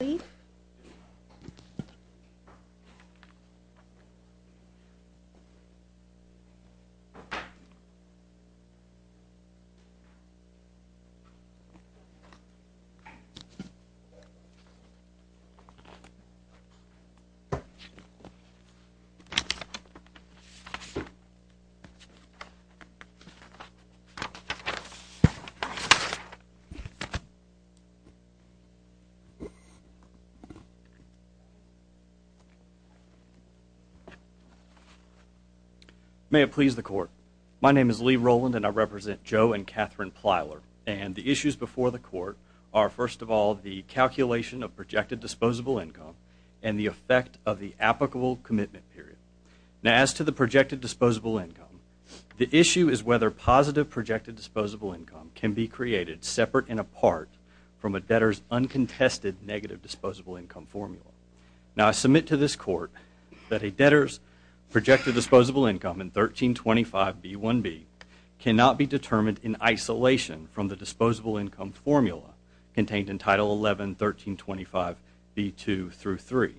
Please. May it please the Court. My name is Lee Rowland and I represent Joe and Catherine Plyler. And the issues before the Court are, first of all, the calculation of projected disposable income and the effect of the applicable commitment period. Now, as to the projected disposable income, the issue is whether positive projected disposable income can be created separate and apart from a debtor's uncontested negative disposable income formula. Now, I submit to this Court that a debtor's projected disposable income in 1325b1b cannot be determined in isolation from the disposable income formula contained in Title 11, 1325b2 through 3.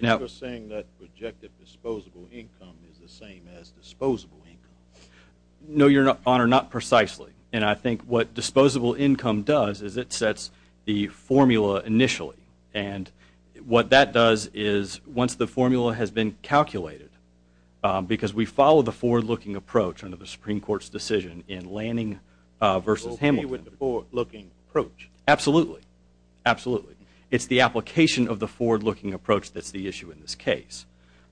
So you're saying that projected disposable income is the same as disposable income? No, Your Honor, not precisely. And I think what disposable income does is it sets the formula initially. And what that does is, once the formula has been calculated, because we follow the forward-looking approach under the Supreme Court's decision in Lanning v. Hamilton. You're okay with the forward-looking approach? Absolutely. Absolutely. It's the application of the forward-looking approach that's the issue in this case.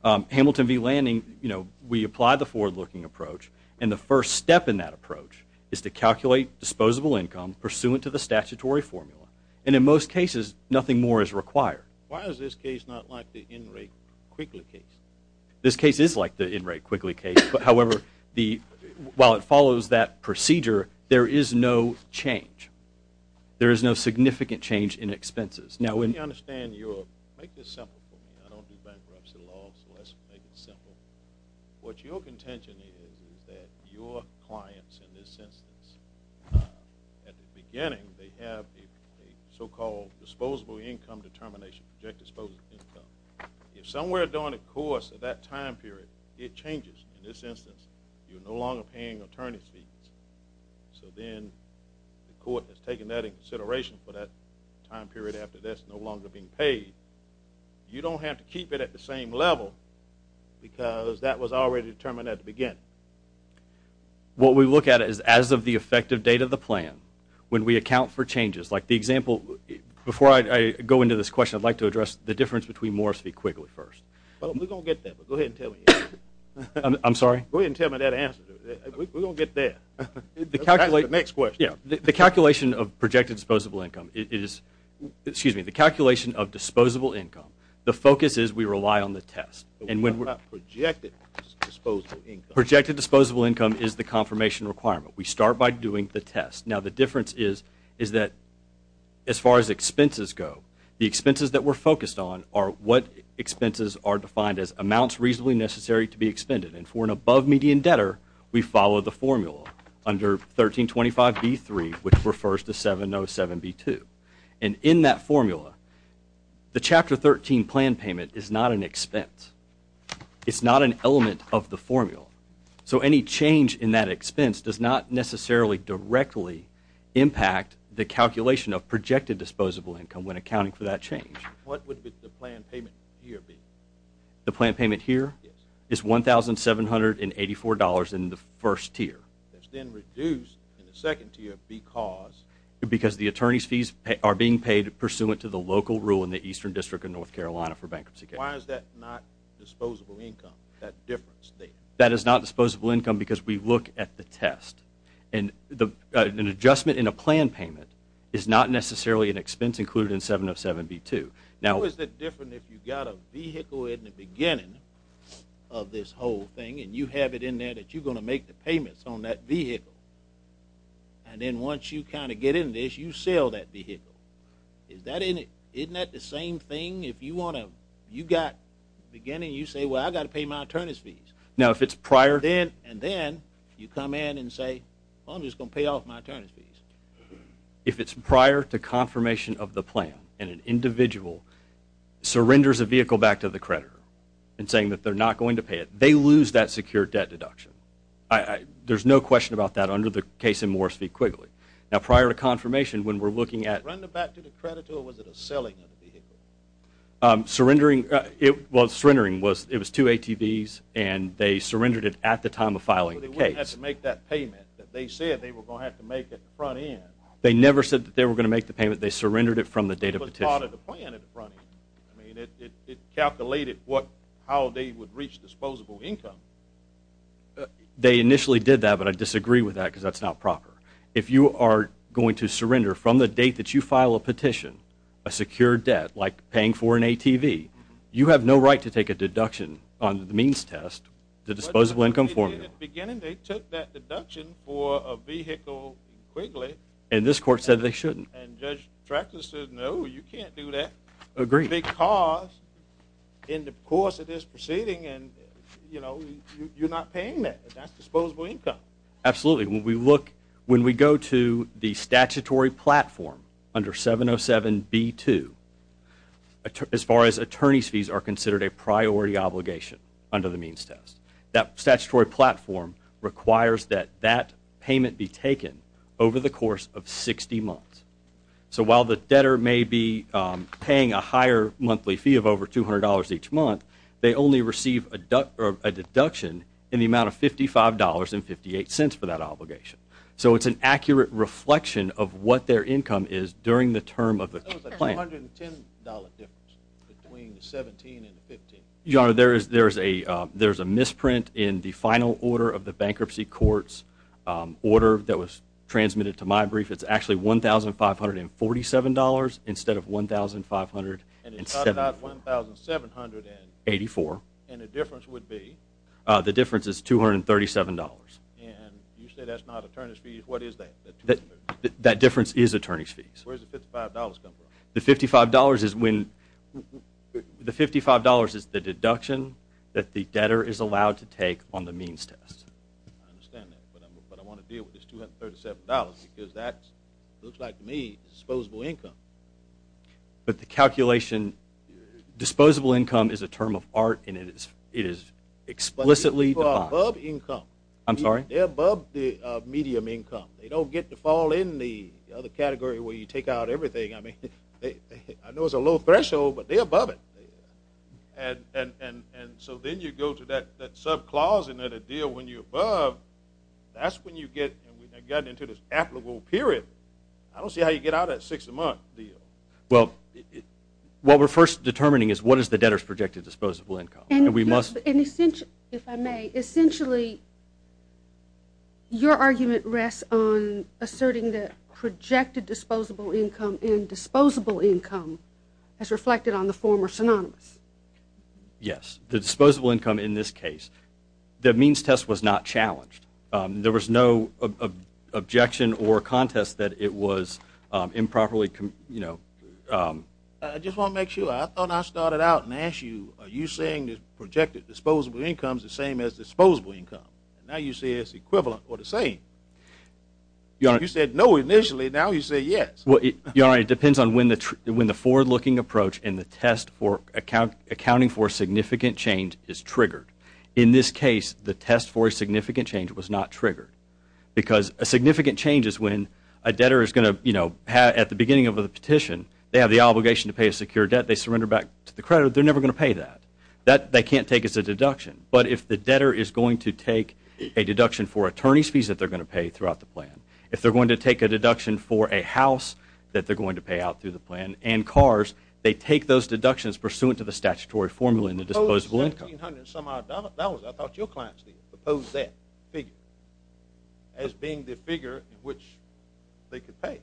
Hamilton v. Lanning, you know, we apply the forward-looking approach, and the first step in that approach is to calculate disposable income pursuant to the statutory formula. And in most cases, nothing more is required. Why is this case not like the Enright-Quigley case? This case is like the Enright-Quigley case, but, however, while it follows that procedure, there is no change. There is no significant change in expenses. Now, when- Make this simple for me. I don't do bankruptcy law, so let's make it simple. What your contention is is that your clients, in this instance, at the beginning, they have a so-called disposable income determination, direct disposable income. If somewhere during the course of that time period, it changes, in this instance, you're no longer paying attorney's fees, so then the court has taken that in consideration for that time period after that's no longer being paid. You don't have to keep it at the same level, because that was already determined at the beginning. What we look at is, as of the effective date of the plan, when we account for changes, like the example- Before I go into this question, I'd like to address the difference between Morris v. Quigley first. Well, we're going to get there, but go ahead and tell me. I'm sorry? Go ahead and tell me that answer. We're going to get there. That's the next question. Yeah. The calculation of projected disposable income is- Excuse me. The calculation of disposable income, the focus is we rely on the test. And when we're- What about projected disposable income? Projected disposable income is the confirmation requirement. We start by doing the test. Now, the difference is that, as far as expenses go, the expenses that we're focused on are what expenses are defined as amounts reasonably necessary to be expended. And for an above-median debtor, we follow the formula. Under 1325B3, which refers to 707B2. And in that formula, the Chapter 13 plan payment is not an expense. It's not an element of the formula. So any change in that expense does not necessarily directly impact the calculation of projected disposable income when accounting for that change. What would the plan payment here be? The plan payment here? Yes. It's $1,784 in the first tier. It's then reduced in the second tier because- Because the attorney's fees are being paid pursuant to the local rule in the Eastern District of North Carolina for bankruptcy cases. Why is that not disposable income, that difference there? That is not disposable income because we look at the test. And an adjustment in a plan payment is not necessarily an expense included in 707B2. How is it different if you've got a vehicle in the beginning of this whole thing and you have it in there that you're going to make the payments on that vehicle? And then once you kind of get in this, you sell that vehicle. Isn't that the same thing if you want to- you've got the beginning, you say, well, I've got to pay my attorney's fees. Now if it's prior- Then you come in and say, I'm just going to pay off my attorney's fees. If it's prior to confirmation of the plan and an individual surrenders a vehicle back to the creditor and saying that they're not going to pay it, they lose that secure debt deduction. There's no question about that under the case in Morris v. Quigley. Now prior to confirmation, when we're looking at- Was it a surrender back to the creditor or was it a selling of the vehicle? Surrendering- Well, surrendering was- It was two ATVs and they surrendered it at the time of filing the case. They didn't have to make that payment. They said they were going to have to make it at the front end. They never said that they were going to make the payment. They surrendered it from the date of the petition. It was part of the plan at the front end. It calculated how they would reach disposable income. They initially did that, but I disagree with that because that's not proper. If you are going to surrender from the date that you file a petition, a secure debt, like paying for an ATV, you have no right to take a deduction on the means test, the disposable income formula. At the beginning, they took that deduction for a vehicle, Quigley. And this court said they shouldn't. And Judge Tractor said, no, you can't do that because in the course of this proceeding you're not paying that. That's disposable income. Absolutely. When we look- When we go to the statutory platform under 707B2, as far as attorney's fees are considered a priority obligation under the means test. That statutory platform requires that that payment be taken over the course of 60 months. So while the debtor may be paying a higher monthly fee of over $200 each month, they only receive a deduction in the amount of $55.58 for that obligation. So it's an accurate reflection of what their income is during the term of the plan. That was a $210 difference between the $17 and the $15. Your Honor, there is a misprint in the final order of the bankruptcy court's order that was transmitted to my brief. It's actually $1,547 instead of $1,584. And it's not about $1,784. And the difference would be? The difference is $237. And you say that's not attorney's fees. What is that? That difference is attorney's fees. Where does the $55 come from? The $55 is when the $55 is the deduction that the debtor is allowed to take on the means test. I understand that. But I want to deal with this $237, because that looks like, to me, disposable income. But the calculation, disposable income is a term of art, and it is explicitly defined. But people are above income. I'm sorry? They're above the medium income. They don't get to fall in the other category where you take out everything. I mean, I know it's a low threshold, but they're above it. And so then you go to that subclause and then a deal when you're above, that's when you get into this applicable period. I don't see how you get out of that six-month deal. Well, what we're first determining is what is the debtor's projected disposable income. And we must. And essentially, if I may, essentially, your argument rests on asserting the projected disposable income in disposable income as reflected on the former synonyms. Yes. The disposable income in this case. The means test was not challenged. There was no objection or contest that it was improperly, you know. I just want to make sure. I thought I started out and asked you, are you saying the projected disposable income is the same as disposable income? And now you say it's equivalent or the same. You said no initially. Now you say yes. Well, it depends on when the forward-looking approach and the test for accounting for significant change is triggered. In this case, the test for a significant change was not triggered. Because a significant change is when a debtor is going to, you know, at the beginning of a petition, they have the obligation to pay a secure debt. They surrender back to the creditor. They're never going to pay that. That they can't take as a deduction. But if the debtor is going to take a deduction for attorney's fees that they're going to pay for a house that they're going to pay out through the plan and cars, they take those deductions pursuant to the statutory formula in the disposable income. I thought your client proposed that figure as being the figure in which they could pay.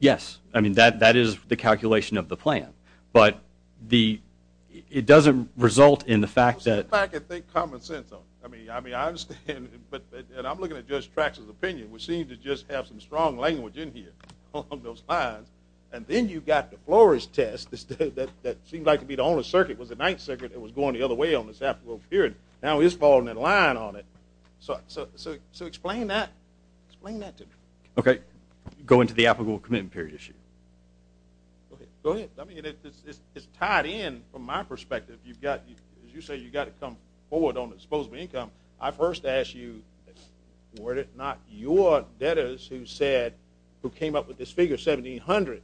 Yes. I mean, that is the calculation of the plan. But it doesn't result in the fact that – I mean, I understand, but – and I'm looking at Judge Trax's opinion, which seems to just have some strong language in here along those lines. And then you've got the Flores test that seemed like to be the only circuit, was the ninth circuit that was going the other way on this applicable period. Now it's falling in line on it. So explain that. Explain that to me. Okay. Go into the applicable commitment period issue. Okay. Go ahead. I mean, it's tied in, from my perspective, you've got – as you say, you've got to come forward on the disposable income, I first ask you, were it not your debtors who said – who came up with this figure of $1,700,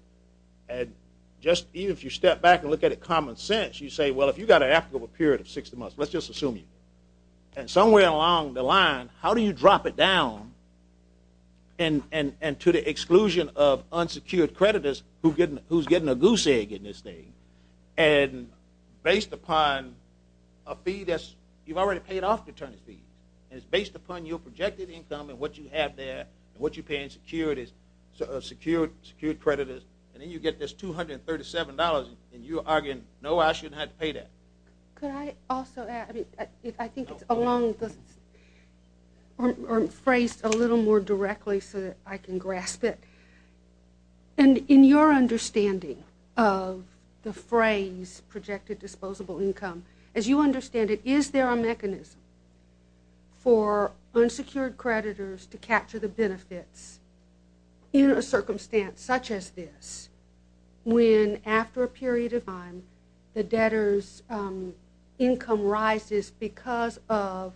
and just even if you step back and look at it common sense, you say, well, if you've got an applicable period of 60 months, let's just assume you – and somewhere along the line, how do you drop it down and to the exclusion of unsecured creditors who's getting a goose egg in this thing? And based upon a fee that's – you've already paid off the attorney's fee, and it's based upon your projected income and what you have there and what you're paying secured creditors, and then you get this $237, and you're arguing, no, I shouldn't have to pay that. Could I also add – I mean, I think it's along the – or phrased a little more directly so that I can grasp it. And in your understanding of the phrase projected disposable income, as you understand it, is there a mechanism for unsecured creditors to capture the benefits in a circumstance such as this, when after a period of time, the debtor's income rises because of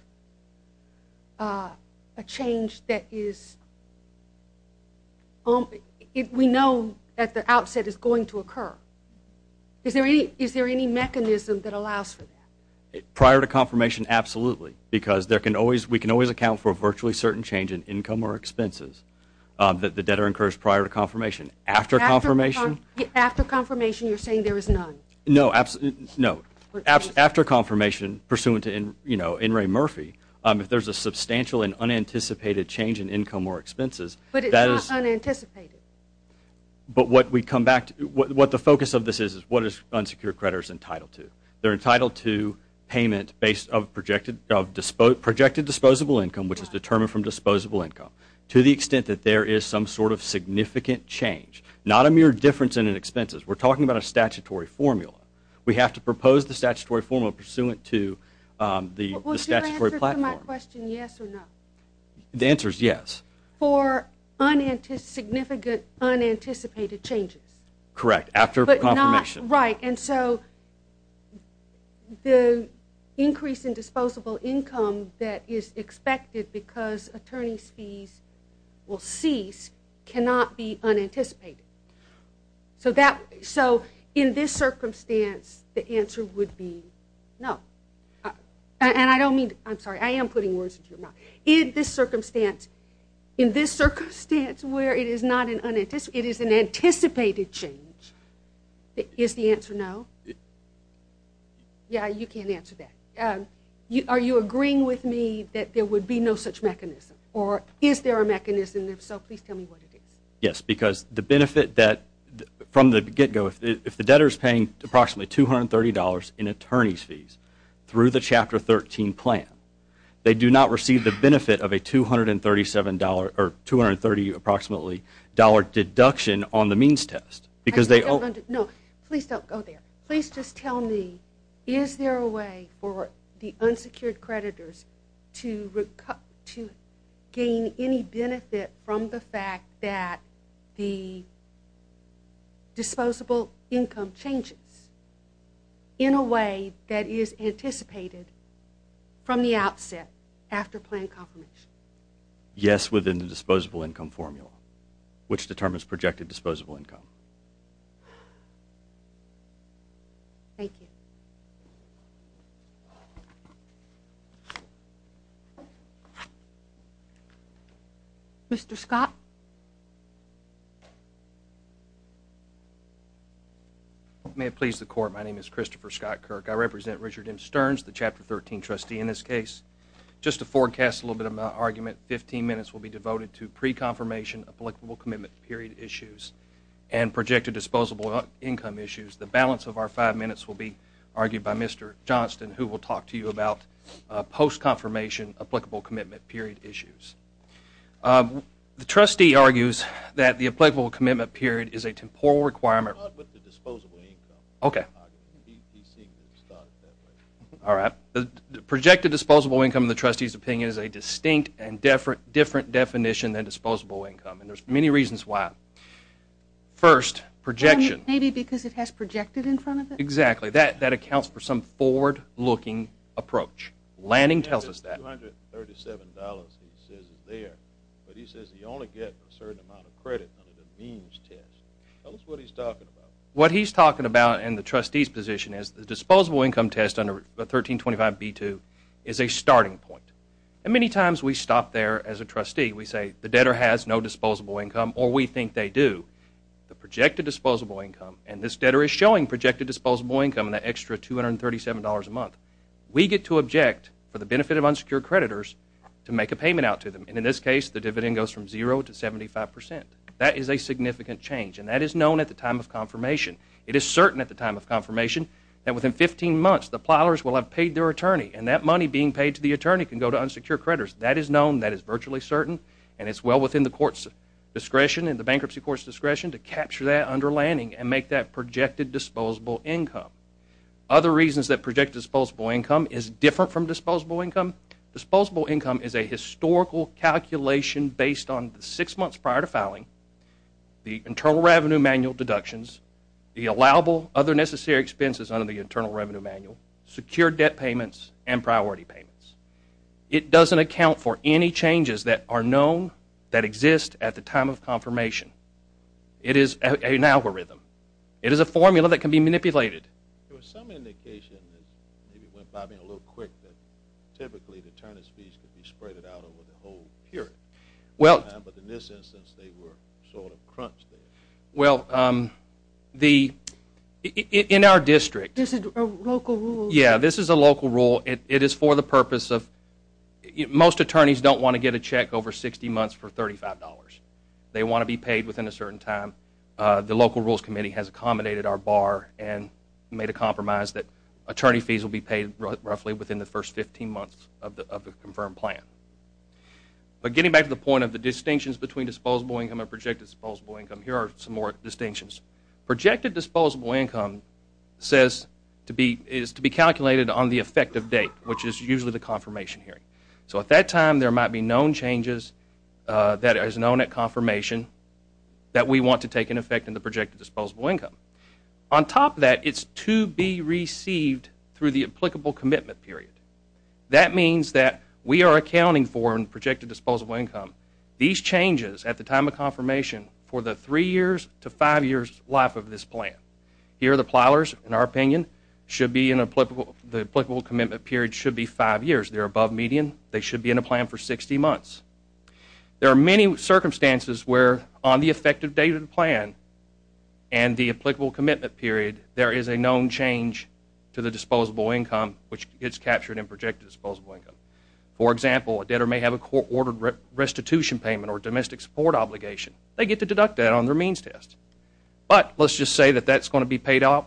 a change that is – we know at the outset it's going to occur. Is there any mechanism that allows for that? Prior to confirmation, absolutely, because there can always – we can always account for a virtually certain change in income or expenses that the debtor incurs prior to confirmation. After confirmation – After confirmation, you're saying there is none. No. No. After confirmation, pursuant to, you know, N. Ray Murphy, if there's a substantial and change in income or expenses, that is – But it's not unanticipated. But what we come back to – what the focus of this is, is what is unsecured creditors entitled to. They're entitled to payment based of projected disposable income, which is determined from disposable income, to the extent that there is some sort of significant change, not a mere difference in expenses. We're talking about a statutory formula. We have to propose the statutory formula pursuant to the statutory platform. Well, is your answer to my question yes or no? The answer is yes. For unanticipated – significant unanticipated changes. Correct. After confirmation. But not – right. And so, the increase in disposable income that is expected because attorney's fees will cease cannot be unanticipated. So that – so, in this circumstance, the answer would be no. And I don't mean – I'm sorry. I am putting words into your mouth. In this circumstance, in this circumstance where it is not an unanticipated – it is an anticipated change, is the answer no? Yeah, you can't answer that. Are you agreeing with me that there would be no such mechanism? Or is there a mechanism there? So, please tell me what it is. Yes, because the benefit that – from the get-go, if the debtor is paying approximately $230 in attorney's fees through the Chapter 13 plan, they do not receive the benefit of a $237 – or $230 approximately deduction on the means test. Because they – No, please don't go there. Please just tell me, is there a way for the unsecured creditors to gain any benefit from the fact that the disposable income changes in a way that is anticipated from the outset after plan confirmation? Yes, within the disposable income formula, which determines projected disposable income. Thank you. Mr. Scott? May it please the Court, my name is Christopher Scott Kirk. I represent Richard M. Stearns, the Chapter 13 trustee in this case. Just to forecast a little bit of my argument, 15 minutes will be devoted to pre-confirmation applicable commitment period issues and projected disposable income issues. The balance of our five minutes will be argued by Mr. Johnston, who will talk to you about post-confirmation applicable commitment period issues. The trustee argues that the applicable commitment period is a temporal requirement – Not with the disposable income argument, he seems to have thought of it that way. All right. The projected disposable income, in the trustee's opinion, is a distinct and different definition than disposable income, and there are many reasons why. First, projection. Maybe because it has projected in front of it? Exactly. That accounts for some forward-looking approach. Lanning tells us that. He says $237 is there, but he says he only gets a certain amount of credit under the means test. Tell us what he's talking about. What he's talking about in the trustee's position is the disposable income test under 1325B2 is a starting point. Many times we stop there as a trustee. We say the debtor has no disposable income, or we think they do. The projected disposable income, and this debtor is showing projected disposable income in that extra $237 a month, we get to object for the benefit of unsecured creditors to make a payment out to them. And in this case, the dividend goes from zero to 75%. That is a significant change, and that is known at the time of confirmation. It is certain at the time of confirmation that within 15 months, the plowers will have paid their attorney, and that money being paid to the attorney can go to unsecured creditors. That is known. That is virtually certain, and it's well within the court's discretion and the bankruptcy court's discretion to capture that underlining and make that projected disposable income. Other reasons that projected disposable income is different from disposable income, disposable income is a historical calculation based on the six months prior to filing, the internal revenue manual deductions, the allowable other necessary expenses under the internal revenue manual, secured debt payments, and priority payments. It doesn't account for any changes that are known that exist at the time of confirmation. It is an algorithm. It is a formula that can be manipulated. There was some indication that maybe went by me a little quick that typically the attorneys fees could be spread out over the whole period of time, but in this instance they were sort of crunched there. Well, in our district. This is a local rule? Yeah, this is a local rule. It is for the purpose of most attorneys don't want to get a check over 60 months for $35. They want to be paid within a certain time. The local rules committee has accommodated our bar and made a compromise that attorney fees will be paid roughly within the first 15 months of the confirmed plan. But getting back to the point of the distinctions between disposable income and projected disposable income, here are some more distinctions. Projected disposable income is to be calculated on the effective date, which is usually the confirmation hearing. So at that time there might be known changes that is known at confirmation that we want to take an effect in the projected disposable income. On top of that, it is to be received through the applicable commitment period. That means that we are accounting for in projected disposable income these changes at the time of confirmation for the three years to five years life of this plan. Here the plowers, in our opinion, the applicable commitment period should be five years. They're above median. They should be in a plan for 60 months. There are many circumstances where on the effective date of the plan and the applicable commitment period, there is a known change to the disposable income, which gets captured in projected disposable income. For example, a debtor may have a court-ordered restitution payment or domestic support obligation. They get to deduct that on their means test. But let's just say that that's going to be paid off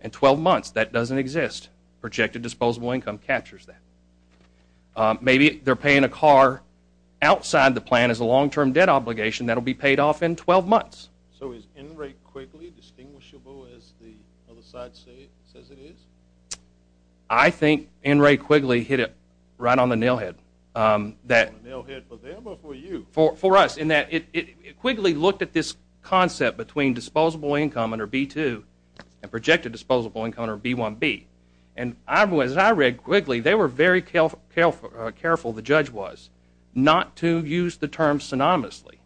in 12 months. That doesn't exist. Projected disposable income captures that. Maybe they're paying a car outside the plan as a long-term debt obligation that will be paid off in 12 months. So is NRA quickly distinguishable as the other side says it is? I think NRA quickly hit it right on the nailhead. On the nailhead for them or for you? For us in that it quickly looked at this concept between disposable income under B-2 and projected disposable income under B-1B. And as I read quickly, they were very careful, the judge was, not to use the term synonymously.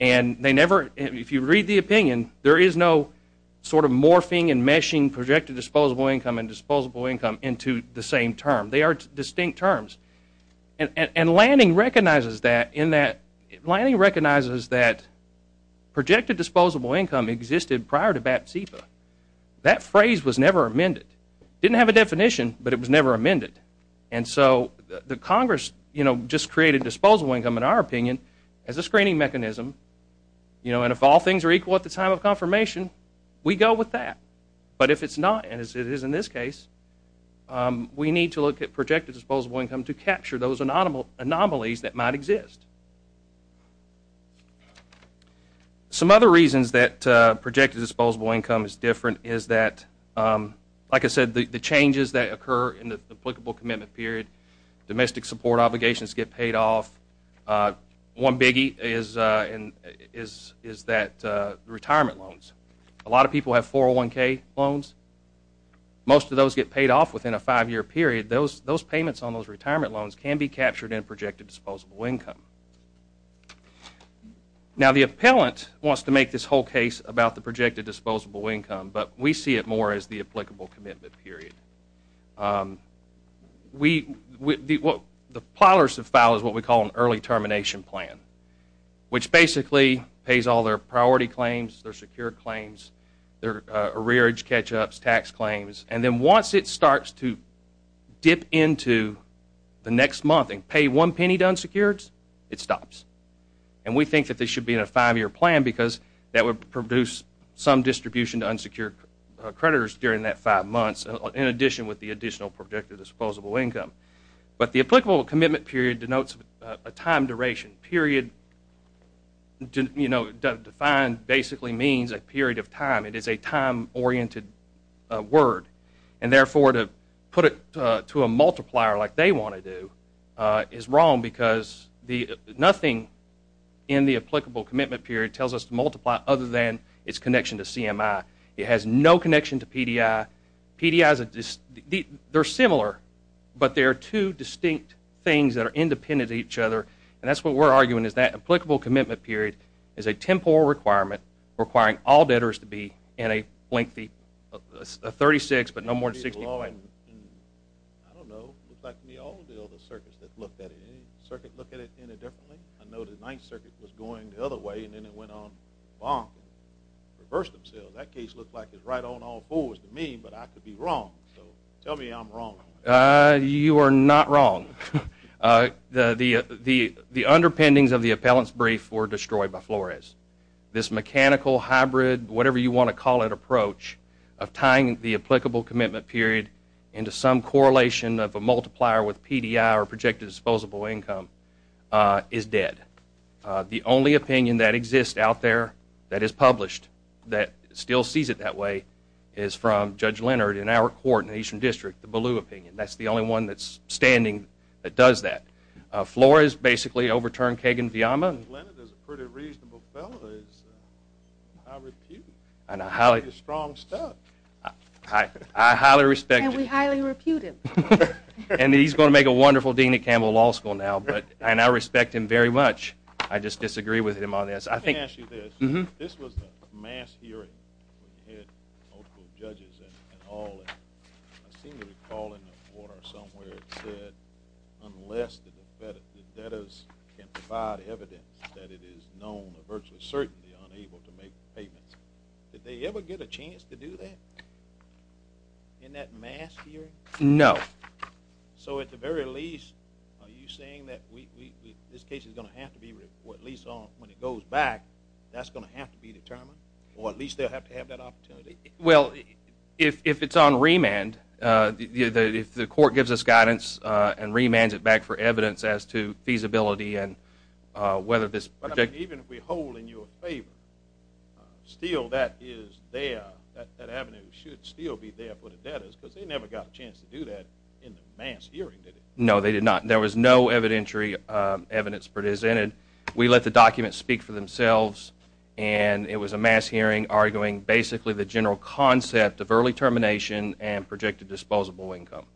And they never, if you read the opinion, there is no sort of morphing and meshing projected disposable income and disposable income into the same term. They are distinct terms. And Lanning recognizes that in that, Lanning recognizes that projected disposable income existed prior to BAT-CEPA. That phrase was never amended. It didn't have a definition, but it was never amended. And so the Congress, you know, just created disposable income in our opinion as a screening mechanism. You know, and if all things are equal at the time of confirmation, we go with that. But if it is not, and it is in this case, we need to look at projected disposable income to capture those anomalies that might exist. Some other reasons that projected disposable income is different is that, like I said, the changes that occur in the applicable commitment period, domestic support obligations get paid off. One biggie is that retirement loans. A lot of people have 401K loans. Most of those get paid off within a five-year period. Those payments on those retirement loans can be captured in projected disposable income. Now the appellant wants to make this whole case about the projected disposable income, but we see it more as the applicable commitment period. The plowers have filed what we call an early termination plan, which basically pays all their priority claims, their secure claims, their arrearage catch-ups, tax claims, and then once it starts to dip into the next month and pay one penny to unsecureds, it stops. And we think that this should be in a five-year plan because that would produce some distribution to unsecured creditors during that five months, in addition with the additional projected disposable income. But the applicable commitment period denotes a time duration. Period defined basically means a period of time. It is a time-oriented word. And therefore, to put it to a multiplier like they want to do is wrong because nothing in the applicable commitment period tells us to multiply other than its connection to CMI. It has no connection to PDI. PDI, they are similar, but they are two distinct things that are independent of each other. And that is what we are arguing is that applicable commitment period is a temporal requirement requiring all debtors to be in a lengthy 36 but no more than 60 plan. I don't know. It looks like to me all the other circuits that looked at it, any circuit look at it any differently? I know the Ninth Circuit was going the other way and then it went on and reversed itself. So that case looked like it was right on all fours to me, but I could be wrong. So tell me I'm wrong. You are not wrong. The underpinnings of the appellant's brief were destroyed by Flores. This mechanical hybrid, whatever you want to call it, approach of tying the applicable commitment period into some correlation of a multiplier with PDI or projected disposable income is dead. The only opinion that exists out there that is published that still sees it that way is from Judge Leonard in our court in the Eastern District, the Ballew opinion. That's the only one that's standing that does that. Flores basically overturned Kagan-Villama. Judge Leonard is a pretty reasonable fellow. He's highly reputed. He's strong stuff. I highly respect him. And we highly repute him. And he's going to make a wonderful dean at Campbell Law School now, and I respect him very much. I just disagree with him on this. I think- Let me ask you this. Mm-hmm. This was a mass hearing, where we had multiple judges and all, and I seem to recall in the order somewhere it said, unless the debtors can provide evidence that it is known or virtually certainly unable to make payments, did they ever get a chance to do that in that mass hearing? No. So at the very least, are you saying that this case is going to have to be-or at least when it goes back, that's going to have to be determined, or at least they'll have to have that opportunity? Well, if it's on remand, if the court gives us guidance and remands it back for evidence as to feasibility and whether this- But even if we hold in your favor, still that is there, that avenue should still be there No, they did not. There was no evidentiary evidence presented. We let the documents speak for themselves, and it was a mass hearing arguing basically the general concept of early termination and projected disposable income.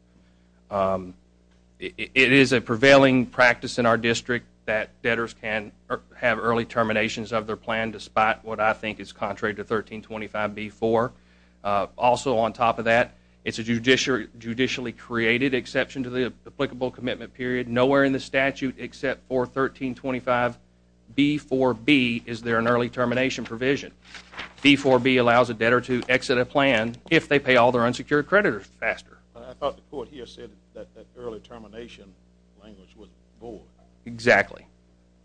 It is a prevailing practice in our district that debtors can have early terminations of their plan, despite what I think is contrary to 1325b-4. Also on top of that, it's a judicially created exception to the applicable commitment period. Nowhere in the statute except for 1325b-4b is there an early termination provision. B-4b allows a debtor to exit a plan if they pay all their unsecured creditors faster. I thought the court here said that early termination language was void. Exactly.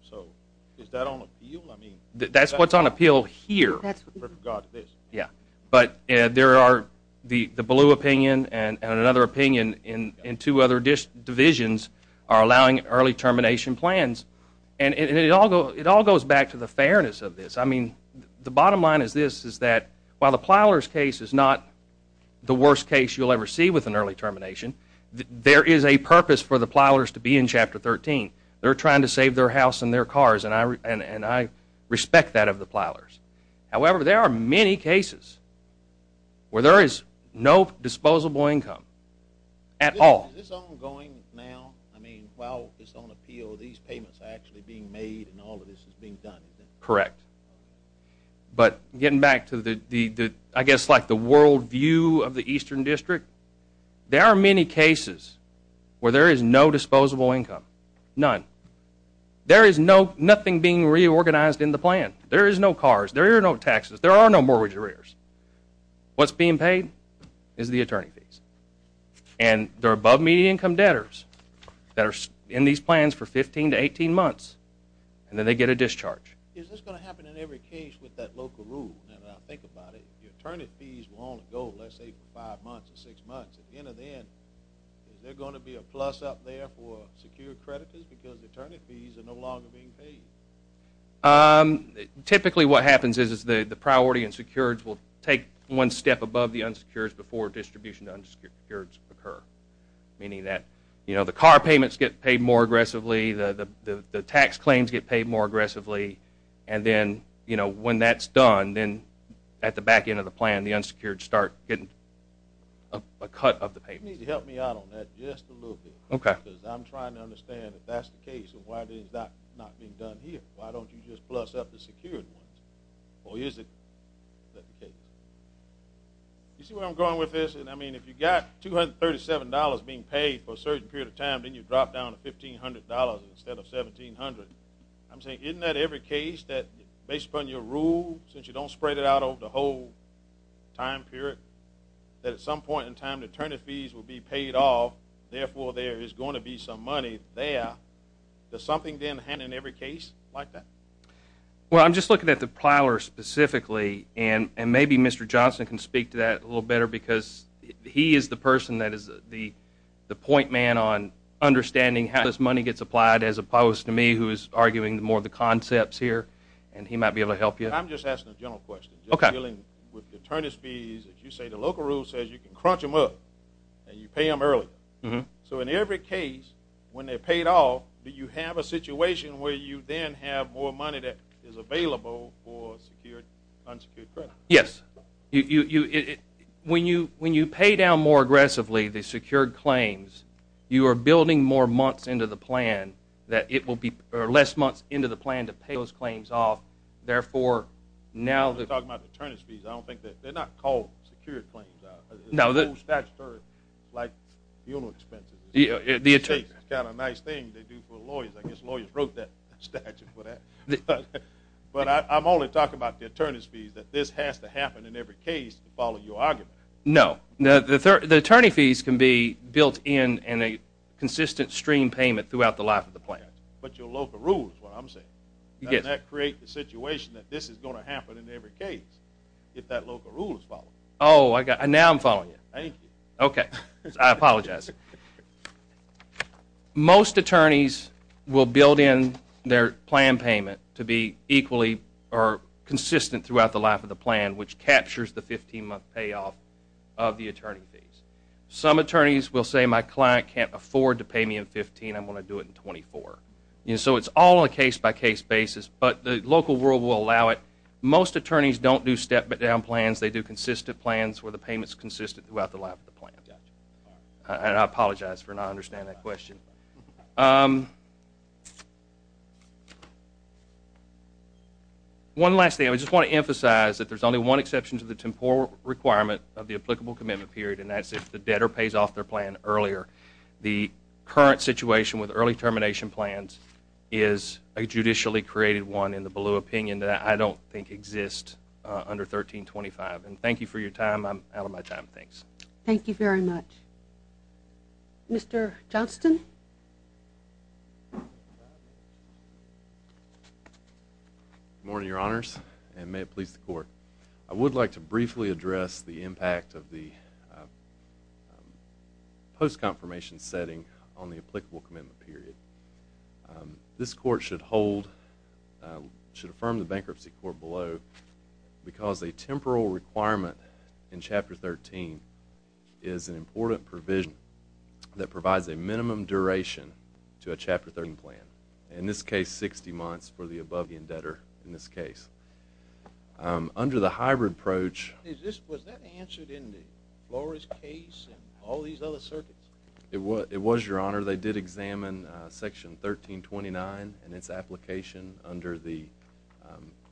So, is that on appeal? That's what's on appeal here. Yeah, but there are the blue opinion and another opinion in two other divisions are allowing early termination plans, and it all goes back to the fairness of this. I mean, the bottom line is this, is that while the Plyler's case is not the worst case you'll ever see with an early termination, there is a purpose for the Plylers to be in Chapter 13. They're trying to save their house and their cars, and I respect that of the Plylers. However, there are many cases where there is no disposable income at all. Is this ongoing now? I mean, while it's on appeal, these payments are actually being made and all of this is being done, isn't it? Correct. But, getting back to the, I guess, like the world view of the Eastern District, there are many cases where there is no disposable income, none. There is nothing being reorganized in the plan. There is no cars. There are no taxes. There are no mortgage arrears. What's being paid is the attorney fees, and they're above median income debtors that are in these plans for 15 to 18 months, and then they get a discharge. Is this going to happen in every case with that local rule? Now that I think about it, the attorney fees will only go, let's say, for five months or six months. At the end of the end, is there going to be a plus up there for secure creditors because the attorney fees are no longer being paid? Typically, what happens is the priority and secured will take one step above the unsecured before distribution of unsecured occur, meaning that, you know, the car payments get paid more aggressively, the tax claims get paid more aggressively, and then, you know, when that's done, then at the back end of the plan, the unsecured start getting a cut of the payment. You need to help me out on that just a little bit. Okay. I'm trying to understand if that's the case and why it's not being done here. Why don't you just plus up the secured ones, or is it? Is that the case? You see where I'm going with this? And I mean, if you got $237 being paid for a certain period of time, then you drop down to $1,500 instead of $1,700. I'm saying, isn't that every case that, based upon your rule, since you don't spread it out over the whole time period, that at some point in time, the attorney fees will be paid off, therefore, there is going to be some money there. Does something then happen in every case like that? Well, I'm just looking at the plower specifically, and maybe Mr. Johnson can speak to that a little better, because he is the person that is the point man on understanding how this money gets applied, as opposed to me, who is arguing more of the concepts here, and he might be able to help you. I'm just asking a general question. Okay. Just dealing with the attorney fees. You say the local rule says you can crunch them up, and you pay them early. So in every case, when they're paid off, do you have a situation where you then have more money that is available for secured, unsecured credit? Yes. When you pay down more aggressively the secured claims, you are building more months into the plan, or less months into the plan to pay those claims off. I'm not talking about the attorney's fees. I don't think that they're not called secured claims. No. They're called statutory, like funeral expenses. It's kind of a nice thing they do for lawyers. I guess lawyers wrote that statute for that. But I'm only talking about the attorney's fees, that this has to happen in every case to follow your argument. No. The attorney fees can be built in in a consistent stream payment throughout the life of the plan. But your local rule is what I'm saying. Yes. How does that create the situation that this is going to happen in every case, if that local rule is followed? Oh, now I'm following you. Thank you. Okay. I apologize. Most attorneys will build in their plan payment to be equally or consistent throughout the life of the plan, which captures the 15-month payoff of the attorney fees. Some attorneys will say, my client can't afford to pay me in 15, I'm going to do it in 24. So it's all a case-by-case basis. But the local rule will allow it. Most attorneys don't do step-down plans. They do consistent plans where the payment's consistent throughout the life of the plan. And I apologize for not understanding that question. One last thing. I just want to emphasize that there's only one exception to the temporal requirement of the applicable commitment period, and that's if the debtor pays off their plan earlier. The current situation with early termination plans is a judicially created one in the below opinion that I don't think exists under 1325. And thank you for your time. I'm out of my time. Thanks. Thank you very much. Mr. Johnston? Good morning, Your Honors, and may it please the Court. I would like to briefly address the impact of the post-confirmation setting on the applicable commitment period. This Court should hold, should affirm the Bankruptcy Court below because a temporal requirement in Chapter 13 is an important provision that provides a minimum duration to a Chapter 13 plan. In this case, 60 months for the above-the-indebtor in this case. Under the hybrid approach... Was that answered in the Flores case and all these other circuits? It was, Your Honor. They did examine Section 1329 and its application under the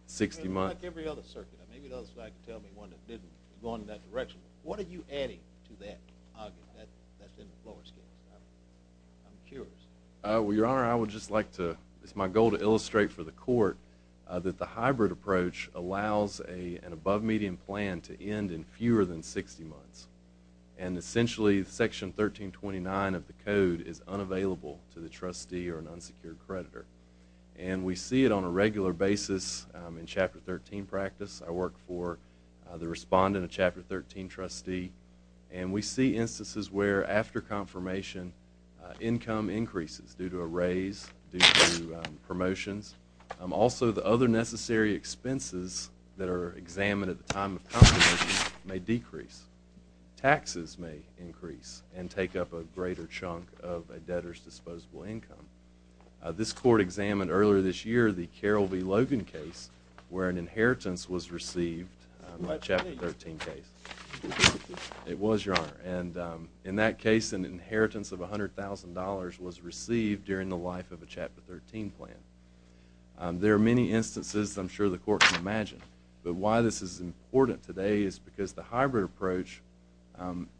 60-month... Like every other circuit. Maybe there was one that didn't go in that direction. What are you adding to that argument that's in the Flores case? I'm curious. Well, Your Honor, I would just like to, it's my goal to illustrate for the Court that the hybrid approach allows an above-median plan to end in fewer than 60 months. And essentially, Section 1329 of the Code is unavailable to the trustee or an unsecured creditor. And we see it on a regular basis in Chapter 13 practice. I work for the respondent of Chapter 13 trustee. And we see instances where after confirmation, income increases due to a raise, due to promotions. Also, the other necessary expenses that are examined at the time of confirmation may decrease. Taxes may increase and take up a greater chunk of a debtor's disposable income. This Court examined earlier this year the Carroll v. Logan case where an inheritance was received in a Chapter 13 case. It was, Your Honor. And in that case, an inheritance of $100,000 was received during the life of a Chapter 13 plan. There are many instances I'm sure the Court can imagine. But why this is important today is because the hybrid approach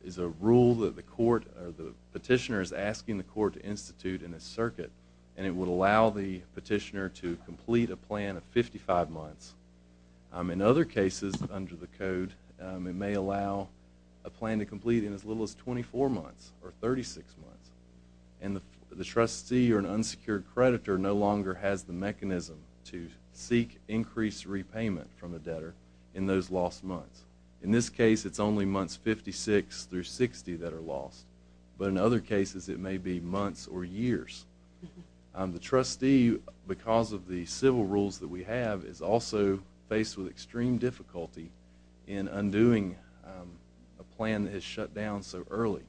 is a rule that the Court or the petitioner is asking the Court to institute in a circuit. And it would allow the petitioner to complete a plan of 55 months. In other cases under the Code, it may allow a plan to complete in as little as 24 months or 36 months. And the trustee or an unsecured creditor no longer has the mechanism to seek increased repayment from a debtor in those lost months. In this case, it's only months 56 through 60 that are lost. But in other cases, it may be months or years. The trustee, because of the civil rules that we have, is also faced with extreme difficulty in undoing a plan that is shut down so early.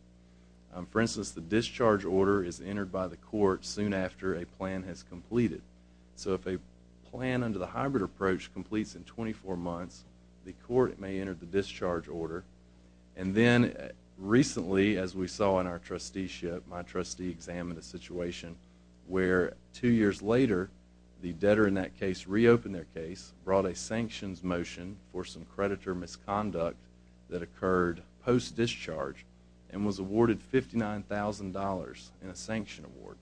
For instance, the discharge order is entered by the Court soon after a plan has completed. So if a plan under the hybrid approach completes in 24 months, the Court may enter the discharge order. And then recently, as we saw in our trusteeship, my trustee examined a situation where two years later, the debtor in that case reopened their case, brought a sanctions motion for some creditor misconduct that occurred post-discharge, and was awarded $59,000 in a sanction award.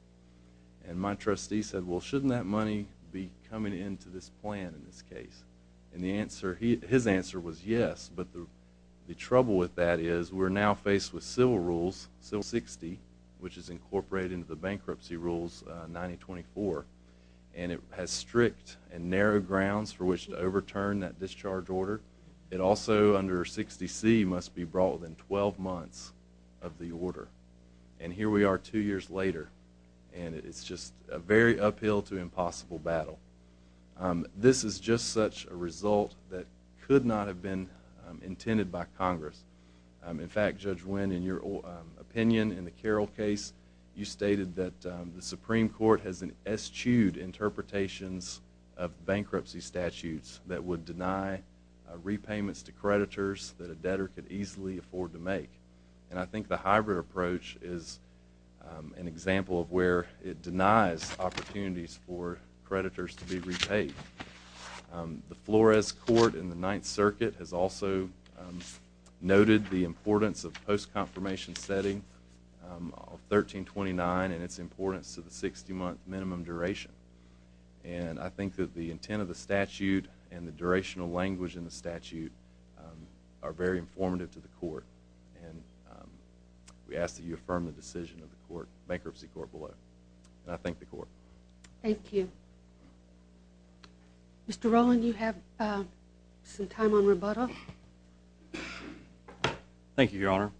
And my trustee said, well, shouldn't that money be coming into this plan in this case? And the answer, his answer was yes. But the trouble with that is we're now faced with civil rules, Civil 60, which is incorporated into the Bankruptcy Rules 9024. And it has strict and narrow grounds for which to overturn that discharge order. It also, under 60C, must be brought within 12 months of the order. And here we are two years later, and it's just a very uphill to impossible battle. This is just such a result that could not have been intended by Congress. In fact, Judge Wynn, in your opinion in the Carroll case, you stated that the Supreme Court has eschewed interpretations of bankruptcy statutes that would deny repayments to creditors that a debtor could easily afford to make. And I think the hybrid approach is an example of where it denies opportunities for creditors to be repaid. The Flores Court in the Ninth Circuit has also noted the importance of post-confirmation setting of 1329 and its importance to the 60-month minimum duration. And I think that the intent of the statute and the durational language in the statute are very informative to the court. And we ask that you affirm the decision of the bankruptcy court below. And I thank the court. Thank you. Mr. Rowland, you have some time on rebuttal? Thank you, Your Honor.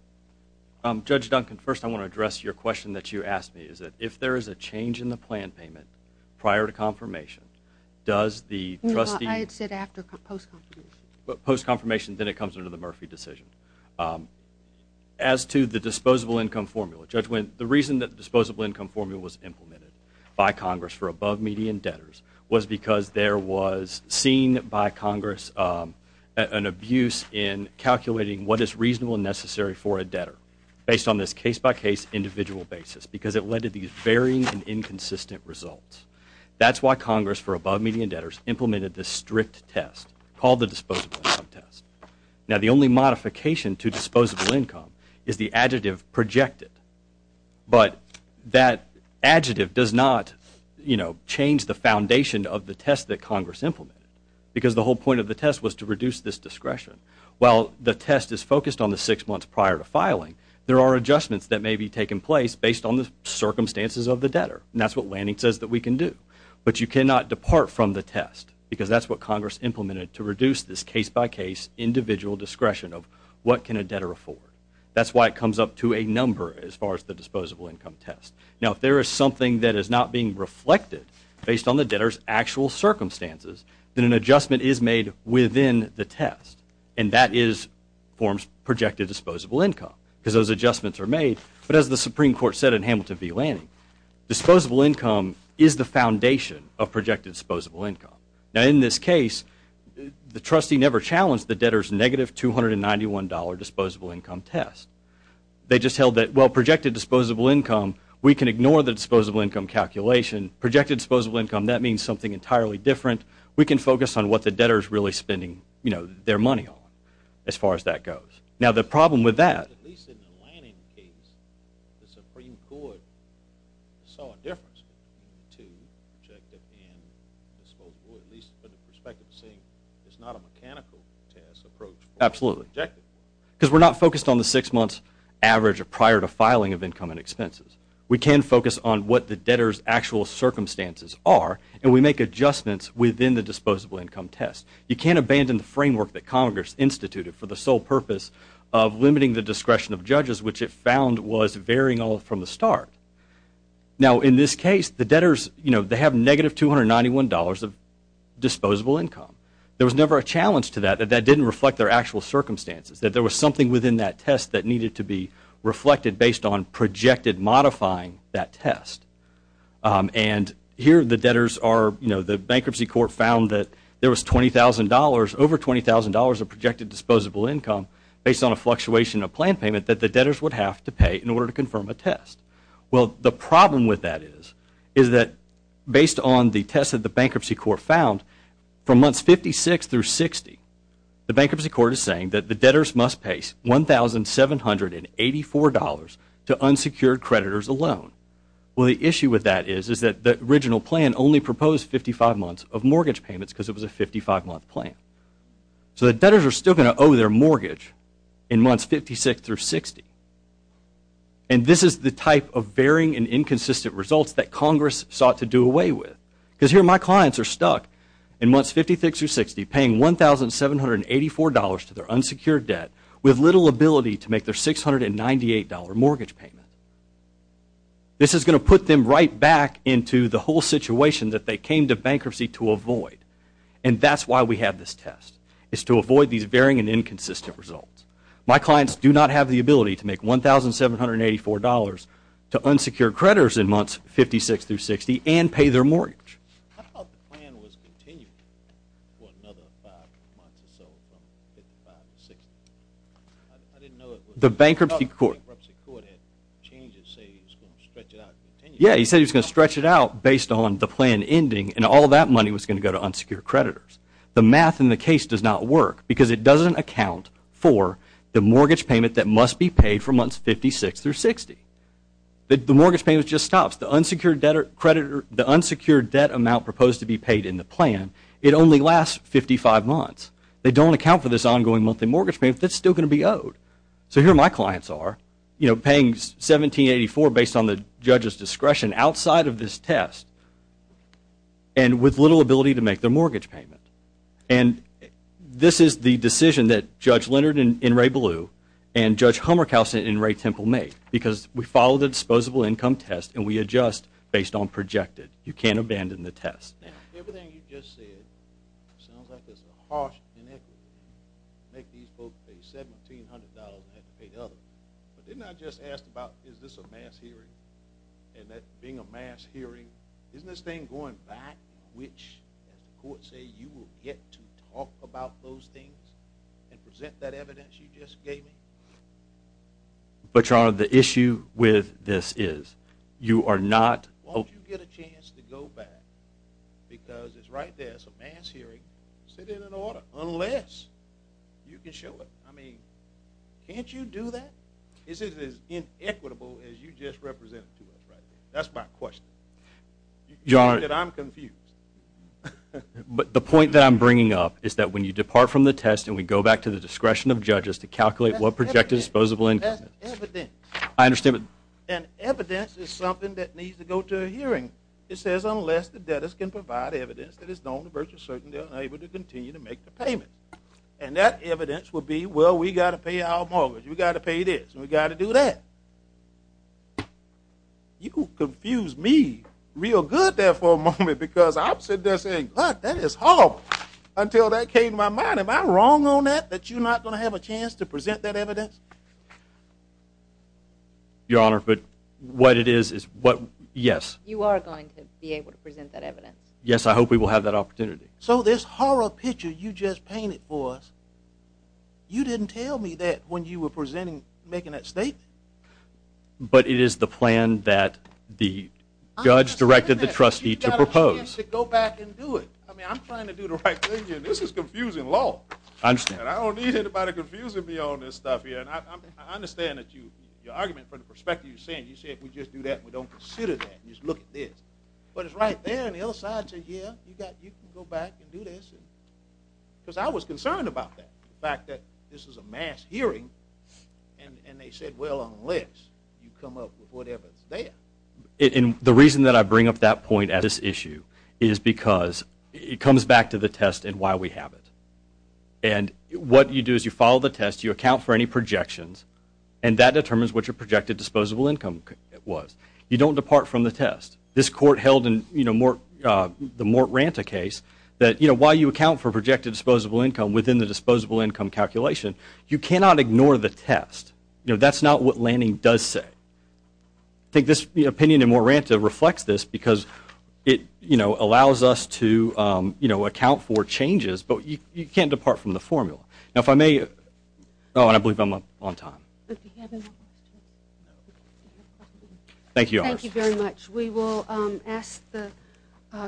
Judge Duncan, first I want to address your question that you asked me, which is that if there is a change in the plan payment prior to confirmation, does the trustee I said after post-confirmation. Post-confirmation, then it comes under the Murphy decision. As to the disposable income formula, Judge Wynn, the reason that the disposable income formula was implemented by Congress for above median debtors was because there was seen by Congress an abuse in calculating what is reasonable and necessary for a debtor based on this case-by-case individual basis because it led to these varying and inconsistent results. That's why Congress for above median debtors implemented this strict test, called the disposable income test. Now, the only modification to disposable income is the adjective projected. But that adjective does not, you know, change the foundation of the test that Congress implemented because the whole point of the test was to reduce this discretion. While the test is focused on the six months prior to filing, there are adjustments that may be taking place based on the circumstances of the debtor. And that's what Lanning says that we can do. But you cannot depart from the test because that's what Congress implemented to reduce this case-by-case individual discretion of what can a debtor afford. That's why it comes up to a number as far as the disposable income test. Now, if there is something that is not being reflected based on the debtor's actual circumstances, then an adjustment is made within the test. And that forms projected disposable income because those adjustments are made. But as the Supreme Court said in Hamilton v. Lanning, disposable income is the foundation of projected disposable income. Now, in this case, the trustee never challenged the debtor's negative $291 disposable income test. They just held that, well, projected disposable income, we can ignore the disposable income calculation. Projected disposable income, that means something entirely different. We can focus on what the debtor is really spending their money on as far as that goes. Now, the problem with that... At least in the Lanning case, the Supreme Court saw a difference between the two, projected and disposable, at least from the perspective of saying it's not a mechanical test approach. Absolutely. Projected. Because we're not focused on the 6-month average prior to filing of income and expenses. We can focus on what the debtor's actual circumstances are and we make adjustments within the disposable income test. You can't abandon the framework that Congress instituted for the sole purpose of limiting the discretion of judges, which it found was varying all from the start. Now, in this case, the debtors, you know, they have negative $291 of disposable income. There was never a challenge to that, that that didn't reflect their actual circumstances, that there was something within that test that needed to be reflected based on projected modifying that test. And here the debtors are, you know, the Bankruptcy Court found that there was $20,000, over $20,000 of projected disposable income, based on a fluctuation of plan payment that the debtors would have to pay in order to confirm a test. Well, the problem with that is, is that based on the test that the Bankruptcy Court found, from months 56 through 60, the Bankruptcy Court is saying that the debtors must pay $1,784 to unsecured creditors alone. Well, the issue with that is, is that the original plan only proposed 55 months of mortgage payments because it was a 55-month plan. So the debtors are still going to owe their mortgage in months 56 through 60. And this is the type of varying and inconsistent results that Congress sought to do away with. Because here my clients are stuck in months 56 through 60, paying $1,784 to their unsecured debt, with little ability to make their $698 mortgage payment. This is going to put them right back into the whole situation that they came to bankruptcy to avoid. And that's why we have this test. It's to avoid these varying and inconsistent results. My clients do not have the ability to make $1,784 to unsecured creditors in months 56 through 60 and pay their mortgage. How about the plan was continued for another 5 months or so from 55 to 60? I didn't know it was... The bankruptcy court... The bankruptcy court had changes say he was going to stretch it out and continue. Yeah, he said he was going to stretch it out based on the plan ending and all that money was going to go to unsecured creditors. The math in the case does not work because it doesn't account for the mortgage payment that must be paid for months 56 through 60. The mortgage payment just stops. The unsecured debt amount proposed to be paid in the plan, it only lasts 55 months. They don't account for this ongoing monthly mortgage payment that's still going to be owed. So here my clients are, you know, paying $1,784 based on the judge's discretion outside of this test and with little ability to make their mortgage payment. And this is the decision that Judge Leonard in Ray Blue and Judge Hummerkaus in Ray Temple made because we follow the disposable income test and we adjust based on projected. You can't abandon the test. Everything you just said sounds like it's a harsh inequity to make these folks pay $1,700 and have to pay the other. But didn't I just ask about is this a mass hearing and that being a mass hearing, isn't this thing going back which, as the courts say, you will get to talk about those things and present that evidence you just gave me? But, Your Honor, the issue with this is you are not... Why don't you get a chance to go back because it's right there, it's a mass hearing. Sit in an order, unless you can show it. I mean, can't you do that? Is it as inequitable as you just represented to us right there? That's my question. Your Honor... But the point that I'm bringing up is that when you depart from the test and we go back to the discretion of judges to calculate what projected disposable income is... That's evidence. I understand. And evidence is something that needs to go to a hearing. It says, unless the debtors can provide evidence that is known to purchase certain debt unable to continue to make the payment. And that evidence will be, well, we got to pay our mortgage, we got to pay this, and we got to do that. You confuse me real good there for a moment because I'm sitting there saying, God, that is horrible. Until that came to my mind, am I wrong on that, that you're not going to have a chance to present that evidence? Your Honor, but what it is is what... Yes. You are going to be able to present that evidence. Yes, I hope we will have that opportunity. So this horror picture you just painted for us, you didn't tell me that when you were presenting, making that statement. But it is the plan that the judge directed the trustee to propose. You got a chance to go back and do it. I mean, I'm trying to do the right thing here. This is confusing law. I understand. I don't need anybody confusing me on this stuff here. I understand that your argument from the perspective you're saying, you said we just do that and we don't consider that. Just look at this. But it's right there on the other side that you can go back and do this. Because I was concerned about that, the fact that this is a mass hearing and they said, well, unless you come up with whatever's there. And the reason that I bring up that point at this issue is because it comes back to the test and why we have it. And what you do is you follow the test, you account for any projections and that determines what your projected disposable income was. You don't depart from the test. This court held in the Mort Ranta case that while you account for projected disposable income within the disposable income calculation, you cannot ignore the test. That's not what Lanning does say. I think this opinion in Mort Ranta reflects this because it allows us to account for changes but you can't depart from the formula. Oh, and I believe I'm on time. If you have any more questions. Thank you. Thank you very much. We will ask the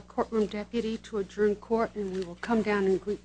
courtroom deputy to adjourn court and we will come down and greet counsel.